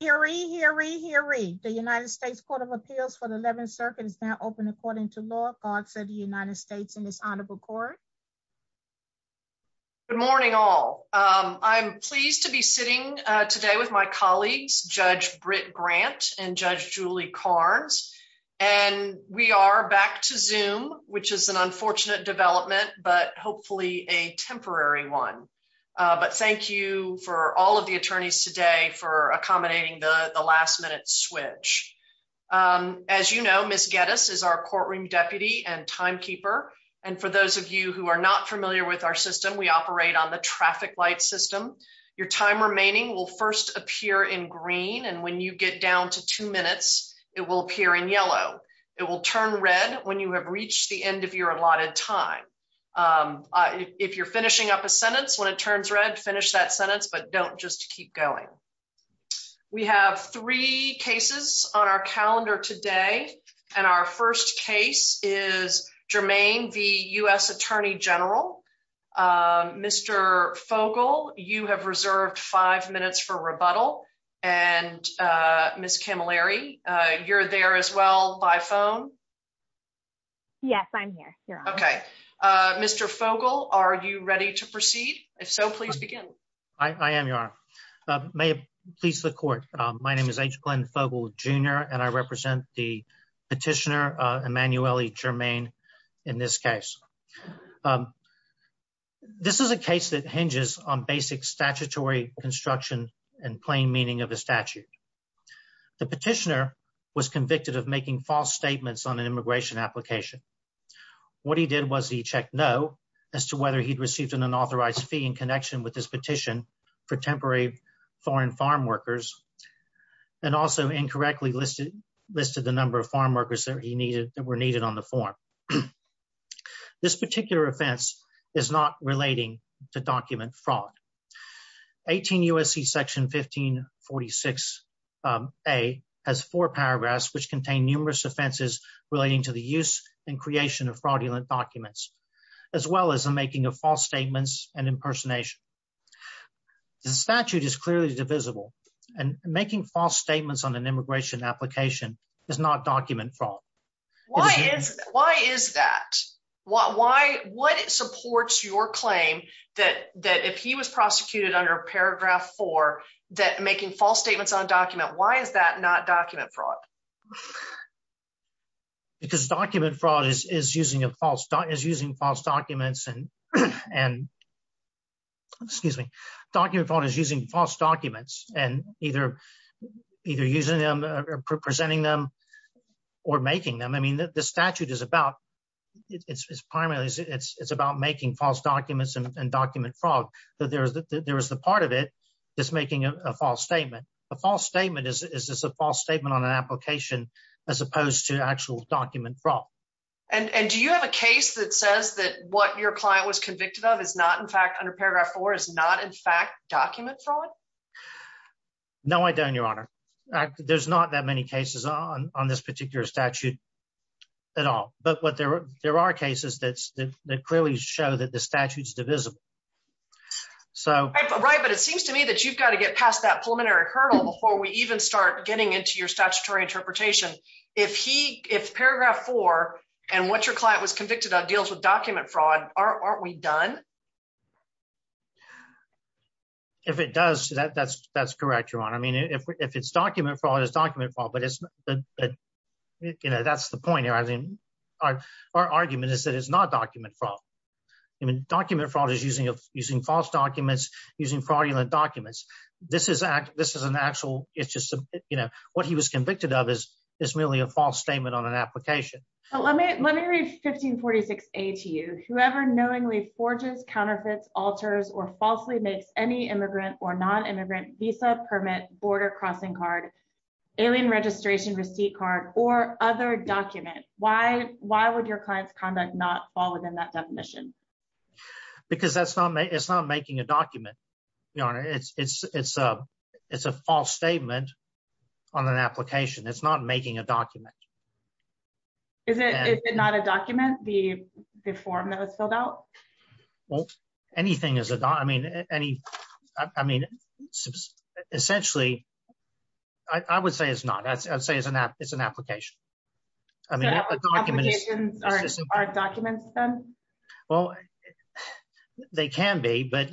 Hear ye, hear ye, hear ye. The United States Court of Appeals for the 11th Circuit is now open according to law. God save the United States and this honorable court. Good morning all. I'm pleased to be sitting today with my colleagues, Judge Britt Grant and Judge Julie Carnes. And we are back to Zoom, which is an unfortunate development, but hopefully a temporary one. But thank you for all of the attorneys today for accommodating the last minute switch. As you know, Ms. Geddes is our courtroom deputy and timekeeper. And for those of you who are not familiar with our system, we operate on the traffic light system. Your time remaining will first appear in green and when you get down to two minutes, it will appear in yellow. It will turn red when you have reached the end of your allotted time. If you're finishing up a sentence, when it turns red, finish that sentence, but don't just keep going. We have three cases on our calendar today. And our first case is Germain v. U.S. Attorney General. Mr. Fogle, you have reserved five minutes for rebuttal. And Ms. Camilleri, you're there as by phone? Yes, I'm here. You're on. Okay. Mr. Fogle, are you ready to proceed? If so, please begin. I am, Your Honor. May it please the court. My name is H. Glenn Fogle, Jr. and I represent the petitioner, Emanuele Germain, in this case. This is a case that hinges on basic statutory construction and plain meaning of a statute. The petitioner was convicted of making false statements on an immigration application. What he did was he checked no as to whether he'd received an unauthorized fee in connection with his petition for temporary foreign farm workers and also incorrectly listed the number of farm workers that were needed on the form. This particular offense is not relating to document fraud. 18 U.S.C. section 1546 a has four paragraphs which contain numerous offenses relating to the use and creation of fraudulent documents as well as the making of false statements and impersonation. The statute is clearly divisible and making false statements on an immigration application is not document fraud. Why is that? What supports your claim that if he was prosecuted under paragraph four that making false statements on a document, why is that not document fraud? Because document fraud is using false documents and either either using them or presenting them or making them. I mean the statute is about making false documents and document fraud. There is the part of it that's making a false statement. A false statement is a false statement on an application as opposed to actual document fraud. And do you have a case that says that what your client was convicted of is not in fact document fraud? No I don't your honor. There's not that many cases on on this particular statute at all but what there there are cases that clearly show that the statute's divisible. So right but it seems to me that you've got to get past that preliminary hurdle before we even start getting into your statutory interpretation. If he if paragraph four and what your client was convicted of deals with document fraud aren't we done? If it does that that's that's correct your honor. I mean if it's document fraud it's document fraud but it's but you know that's the point here. I mean our our argument is that it's not document fraud. I mean document fraud is using a using false documents using fraudulent documents. This is act this is an actual it's just you know what he was convicted of is it's merely a false statement on an application. So let me let me read 1546a to you. Whoever knowingly forges counterfeits alters or falsely makes any immigrant or non-immigrant visa permit border crossing card alien registration receipt card or other document why why would your client's conduct not fall within that definition? Because that's not it's not making a document your honor. It's it's it's it's a false statement on an application. It's not making a document. Is it is it not a document the the form that was filled out? Well anything is a I mean any I mean essentially I I would say it's not I'd say it's an app it's an application. I mean applications aren't documents then? Well they can be but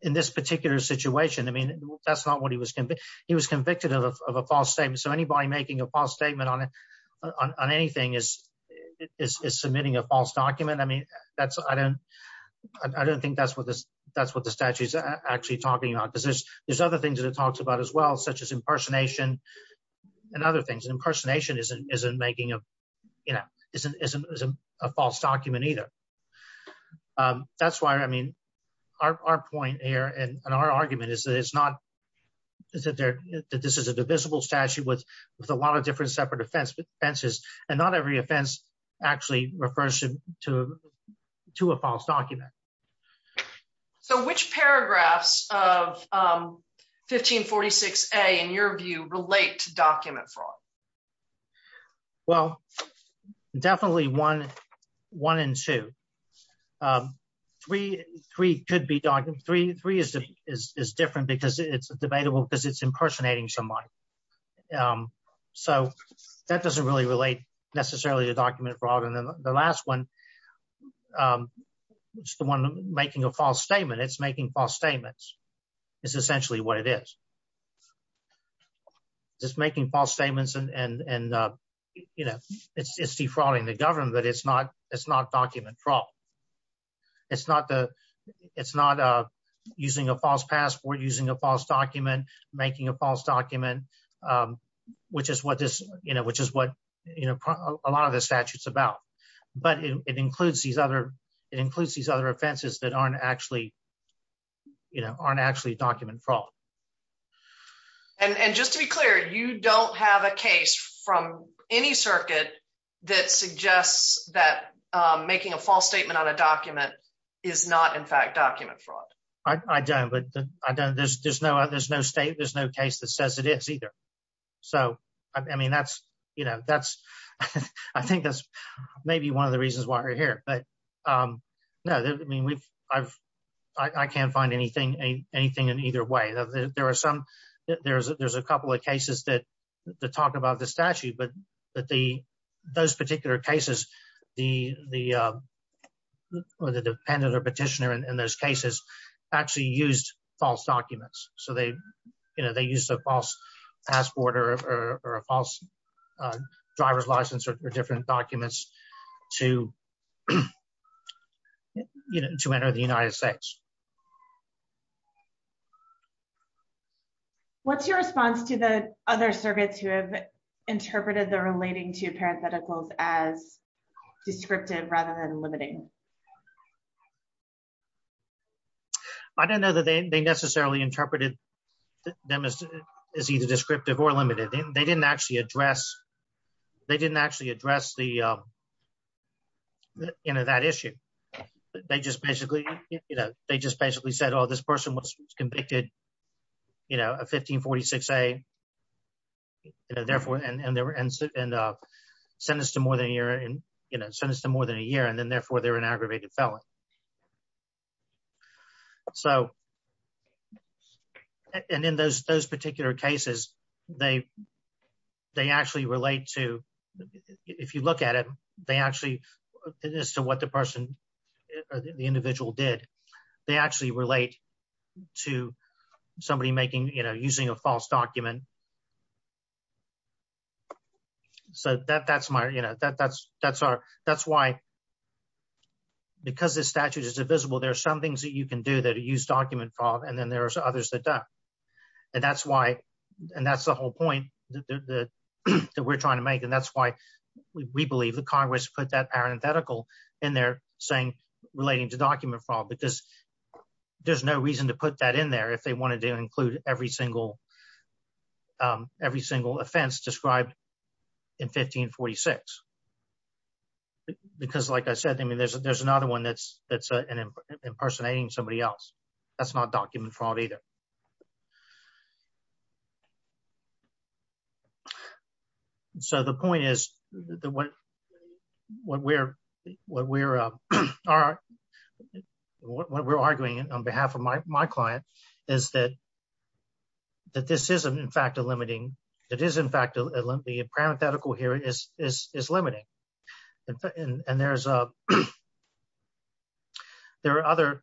in this particular situation I mean that's not what he was convicted he was convicted of a false statement. So anybody making a false statement on it on anything is is submitting a false document. I mean that's I don't I don't think that's what this that's what the statute is actually talking about because there's there's other things that it talks about as well such as impersonation and other things impersonation isn't isn't making a you know isn't isn't a false document either. That's why I mean our point here and our argument is that it's not is that there that this is a divisible statute with with a lot of different separate offenses and not every offense actually refers to to to a false document. So which paragraphs of 1546a in your view relate to document fraud? Well definitely one one and two. Three three could be document three three is the is is different because it's debatable because it's impersonating somebody. So that doesn't really relate necessarily to document fraud and then the last one it's the one making a false statement it's making false statements is essentially what it is. It's making false statements and and and you know it's defrauding the government but it's not it's not document fraud. It's not the it's not using a false passport using a false document making a false document which is what this you know which is what you know a lot of the statute's about but it includes these other it includes these other offenses that aren't actually you know aren't actually document fraud. And and just to be clear you don't have a case from any circuit that suggests that making a false statement on a document is not in fact document fraud. I don't but I don't there's there's no there's no state there's no case that says it is either. So I mean that's you know that's I think that's maybe one of the I can't find anything anything in either way. There are some there's there's a couple of cases that talk about the statute but that the those particular cases the the or the dependent or petitioner in those cases actually used false documents. So they you know they used a false passport or a false driver's license or different documents to you know to enter the United States. What's your response to the other circuits who have interpreted the relating to parentheticals as descriptive rather than limiting? I don't know that they necessarily interpreted them as either descriptive or limited. They didn't actually address they didn't actually address the you know that issue. They just basically you know they just basically said oh this person was convicted you know a 1546a you know therefore and they were and uh sentenced to more than a year and you know sentenced to more than a year and then therefore they're an aggravated felon. So and in those those particular cases they they actually relate to if you look at it they actually as to what the person the individual did they actually relate to somebody making you know using a false document. So that that's my you know that that's that's our that's why because this statute is divisible there are some things that you can do that use document and then there are others that don't and that's why and that's the whole point that we're trying to make and that's why we believe that Congress put that parenthetical in there saying relating to document fraud because there's no reason to put that in there if they wanted to include every single um every single offense described in 1546 because like I said I mean there's there's another one that's that's an impersonating somebody else that's not document fraud either. So the point is that what what we're what we're uh all right what we're arguing on behalf of my my client is that that this isn't in fact a limiting it is in fact the parenthetical here is is is limiting and and there's uh there are other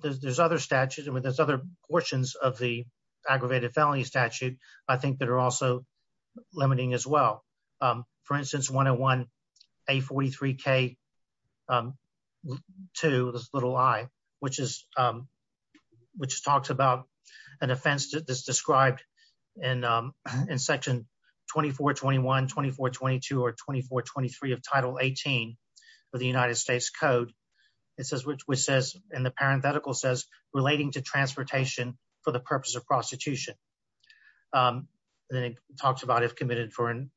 there's other statutes I mean there's other portions of the aggravated felony statute I think that are also limiting as well um for instance 101 a 43k um to this little i which is um which talks about an offense that's described in um in section 24 21 24 22 or 24 23 of title 18 for the United States code it says which which says in the parenthetical says relating to transportation for the purpose of prostitution um then it talks about if committed for an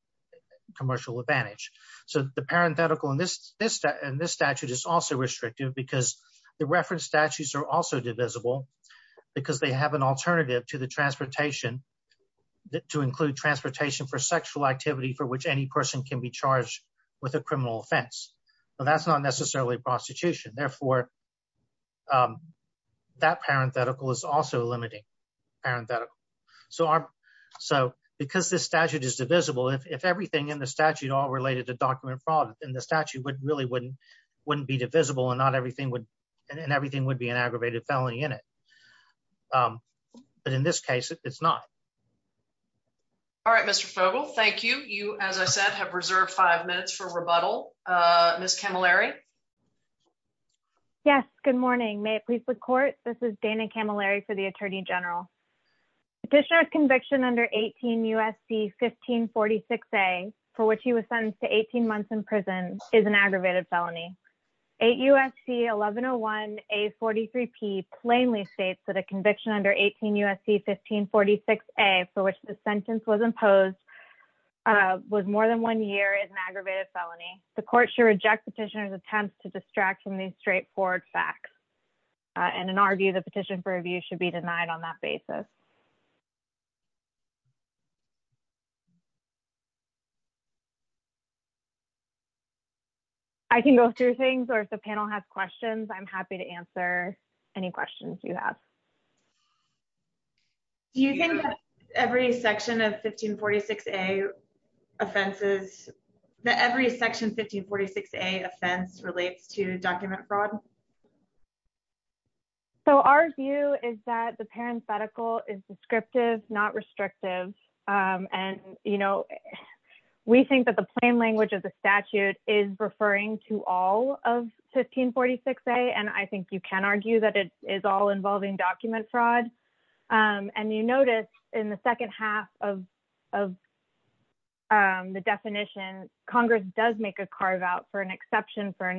commercial advantage so the parenthetical in this this and this statute is also restrictive because the reference statutes are also divisible because they have an alternative to the transportation to include transportation for sexual activity for which any person can be charged with a criminal offense well that's not necessarily prostitution therefore um that parenthetical is also limiting parenthetical so our so because this statute is divisible if everything in the statute all related to document fraud and the statute would really wouldn't wouldn't be divisible and not everything would and everything would be an aggravated felony in it um but in this case it's not all right Mr. Fogle thank you you as I said have reserved five minutes for rebuttal Ms. Camilleri yes good morning may it please the court this is Dana Camilleri for the attorney general petitioner's conviction under 18 U.S.C. 1546a for which he was sentenced to 18 months in prison is an aggravated felony 8 U.S.C. 1101 a 43 p plainly states that a conviction under 18 U.S.C. 1546a for which the sentence was imposed was more than one year is an aggravated felony court should reject petitioner's attempts to distract from these straightforward facts and in our view the petition for review should be denied on that basis I can go through things or if the panel has questions I'm happy to answer any questions you have do you think that every section of 1546a offenses that every section 1546a offense relates to document fraud so our view is that the parenthetical is descriptive not restrictive and you know we think that the plain language of the statute is referring to all of 1546a and I document fraud and you notice in the second half of the definition congress does make a carve out for an exception for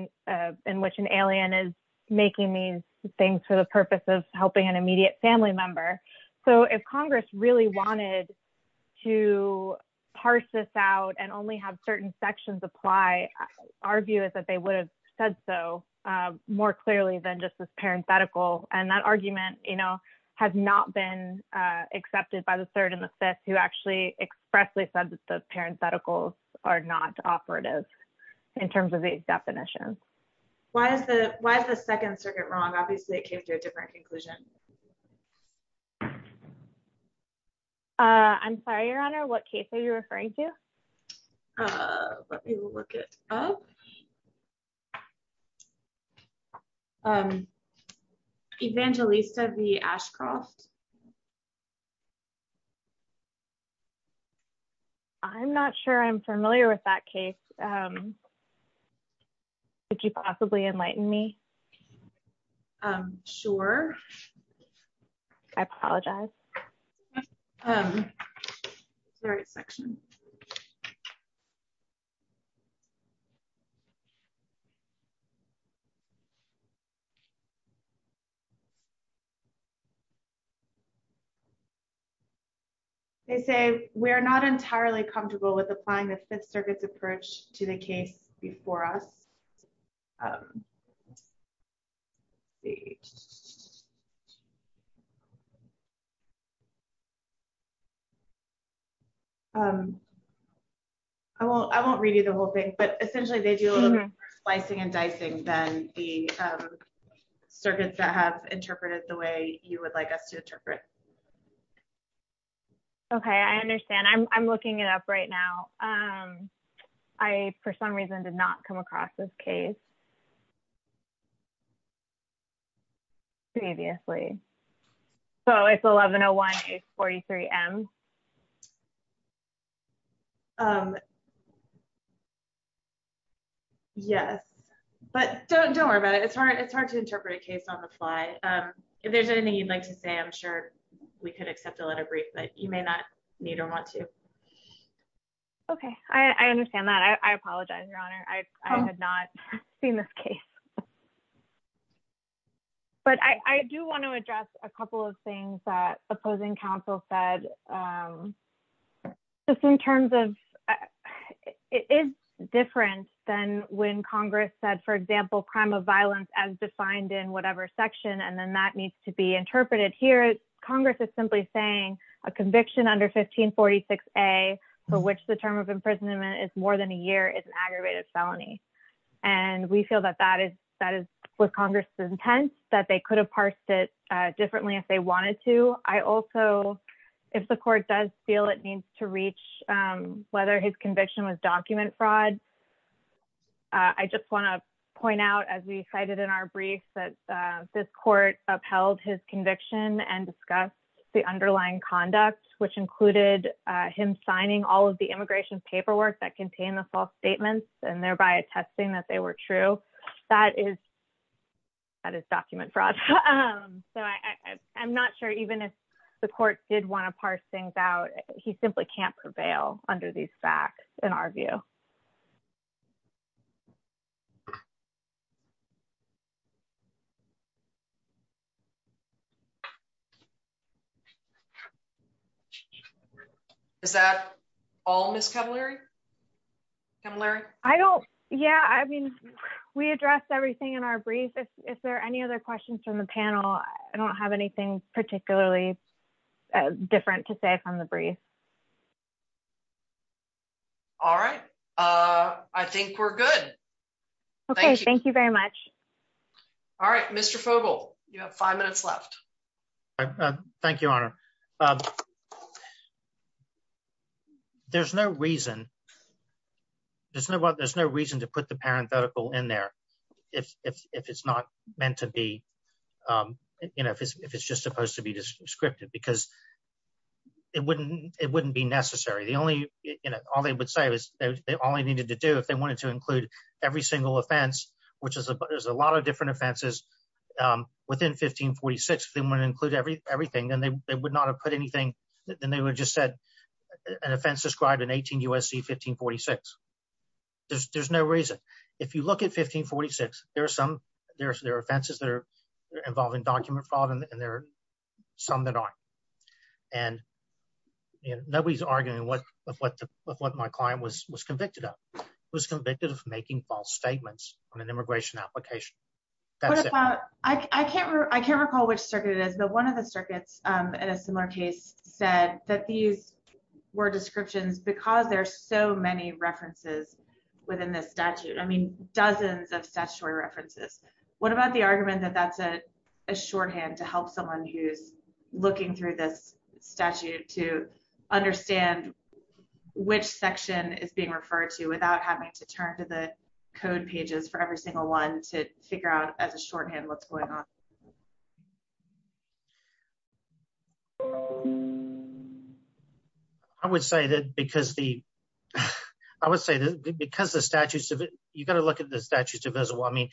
in which an alien is making these things for the purpose of helping an immediate family member so if congress really wanted to parse this out and only have certain sections apply our view is that they would have said so more clearly than just this parenthetical and that argument you know has not been uh accepted by the third and the fifth who actually expressly said that the parentheticals are not operative in terms of these definitions why is the why is the second circuit wrong obviously it came to a different conclusion uh I'm sorry your honor what case are you referring to uh let me look it up um evangelista v ashcroft I'm not sure I'm familiar with that case um could you possibly enlighten me um sure I apologize um it's the right section they say we're not entirely comfortable with applying the fifth circuit's approach to the case before us um well I won't read you the whole thing but essentially they do a little bit more slicing and dicing than the circuits that have interpreted the way you would like us to interpret it okay I understand I'm looking it up right now um I for some reason did not come across this case previously so it's 1101-843-m um yes but don't don't worry about it it's hard it's hard to interpret a case on the fly if there's anything you'd like to say I'm sure we could accept a letter brief but you may not need or want to okay I I understand that I I apologize your honor I I had not seen this case but I I do want to address a couple of things that opposing counsel said um just in terms of it is different than when congress said for example crime of violence as defined in whatever section and then that needs to be interpreted here congress is simply saying a conviction under 1546a for which the term of imprisonment is more than a year is an aggravated felony and we feel that that is that is what congress is intense that they could have parsed it differently if they wanted to I also if the court does feel it needs to reach um whether his this court upheld his conviction and discussed the underlying conduct which included uh him signing all of the immigration paperwork that contained the false statements and thereby attesting that they were true that is that is document fraud um so I I'm not sure even if the court did want to parse things out he simply can't prevail under these facts in our view okay is that all miss cavalry come larry I don't yeah I mean we addressed everything in our brief if there are any other questions from the panel I don't have anything particularly different to say from the brief all right uh I think we're good okay thank you very much all right Mr. Fogle you have five minutes left thank you honor um there's no reason there's no what there's no reason to put the parenthetical in there if if it's not meant to be um you know if it's if it's just supposed to be descriptive because it wouldn't it wouldn't be necessary the only you know all they would say is they only needed to do if they wanted to include every single offense which is a there's a lot of different offenses um within 1546 they want to include every everything and they would not have put anything then they would have just said an offense described in 18 usc 1546 there's there's no reason if you look at 1546 there are some there's there are offenses that are involving document fraud and there are some that aren't and you know nobody's arguing what what what my client was was convicted of was convicted of making false statements on an immigration application that's it I can't I can't recall which circuit it is but one of the circuits um in a similar case said that these were descriptions because there's so many references within this statute I mean dozens of statutory references what about the argument that that's a shorthand to help someone who's looking through this statute to understand which section is being referred to without having to turn to the code pages for every single one to figure out as a shorthand what's going on I would say that because the I would say that because the statutes of it look at the statutes of visible I mean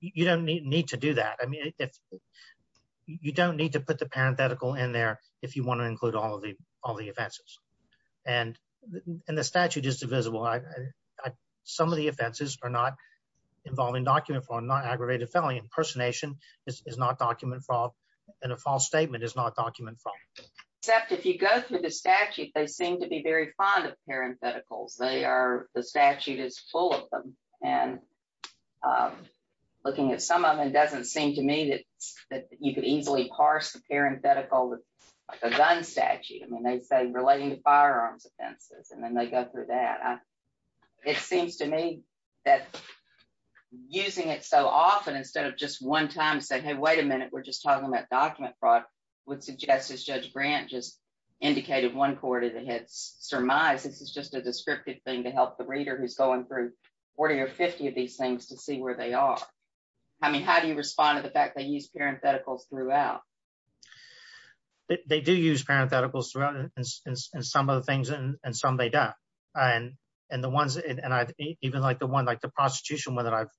you don't need to do that I mean if you don't need to put the parenthetical in there if you want to include all of the all the offenses and and the statute is divisible I some of the offenses are not involving document for non-aggravated felony impersonation this is not document fraud and a false statement is not document fraud except if you go through the statute they seem to be very fond of parentheticals they are the statute is full and um looking at some of them it doesn't seem to me that that you could easily parse the parenthetical like a gun statute I mean they say relating to firearms offenses and then they go through that I it seems to me that using it so often instead of just one time saying hey wait a minute we're just talking about document fraud would suggest as judge grant just indicated one surmise this is just a descriptive thing to help the reader who's going through 40 or 50 of these things to see where they are I mean how do you respond to the fact they use parentheticals throughout they do use parentheticals throughout and some of the things and some they don't and and the ones and I've even like the one like the prostitution one that I've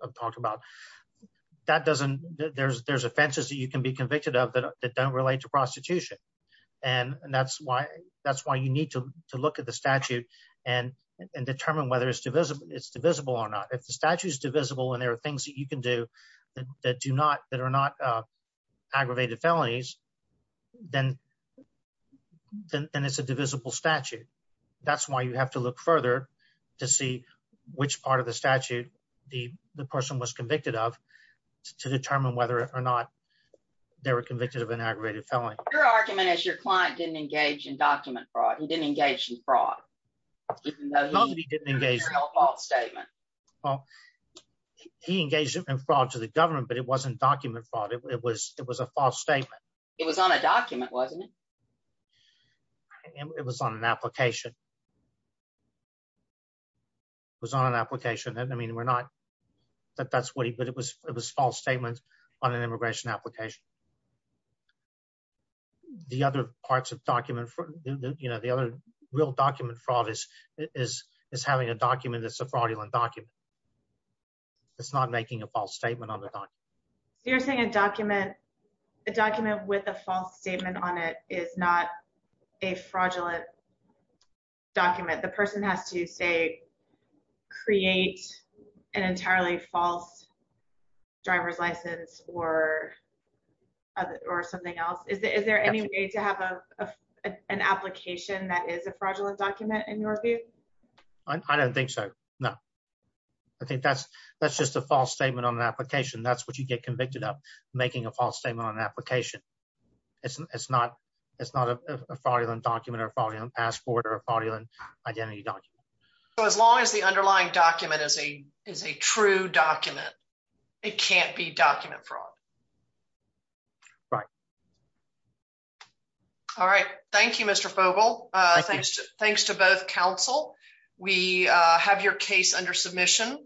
I've talked about that doesn't there's there's offenses that you can be convicted of that don't relate to and that's why that's why you need to look at the statute and and determine whether it's divisible it's divisible or not if the statute is divisible and there are things that you can do that do not that are not uh aggravated felonies then then it's a divisible statute that's why you have to look further to see which part of the statute the the person was convicted of to determine whether or they were convicted of an aggravated felony your argument is your client didn't engage in document fraud he didn't engage in fraud he didn't engage in a false statement well he engaged in fraud to the government but it wasn't document fraud it was it was a false statement it was on a document wasn't it and it was on an application it was on an application and I mean we're not that that's what he but it was it was false statements on an immigration application the other parts of document for you know the other real document fraud is is is having a document that's a fraudulent document it's not making a false statement on the document so you're saying a document a document with a false statement on it is not a fraudulent document the person has to say create an entirely false driver's license or other or something else is there any way to have a an application that is a fraudulent document in your view I don't think so no I think that's that's just a false statement on an application that's what you get convicted of making a false statement on an application it's it's not it's not a fraudulent document or following on passport identity document so as long as the underlying document is a is a true document it can't be document fraud right all right thank you Mr. Fogel uh thanks thanks to both counsel we uh have your case under submission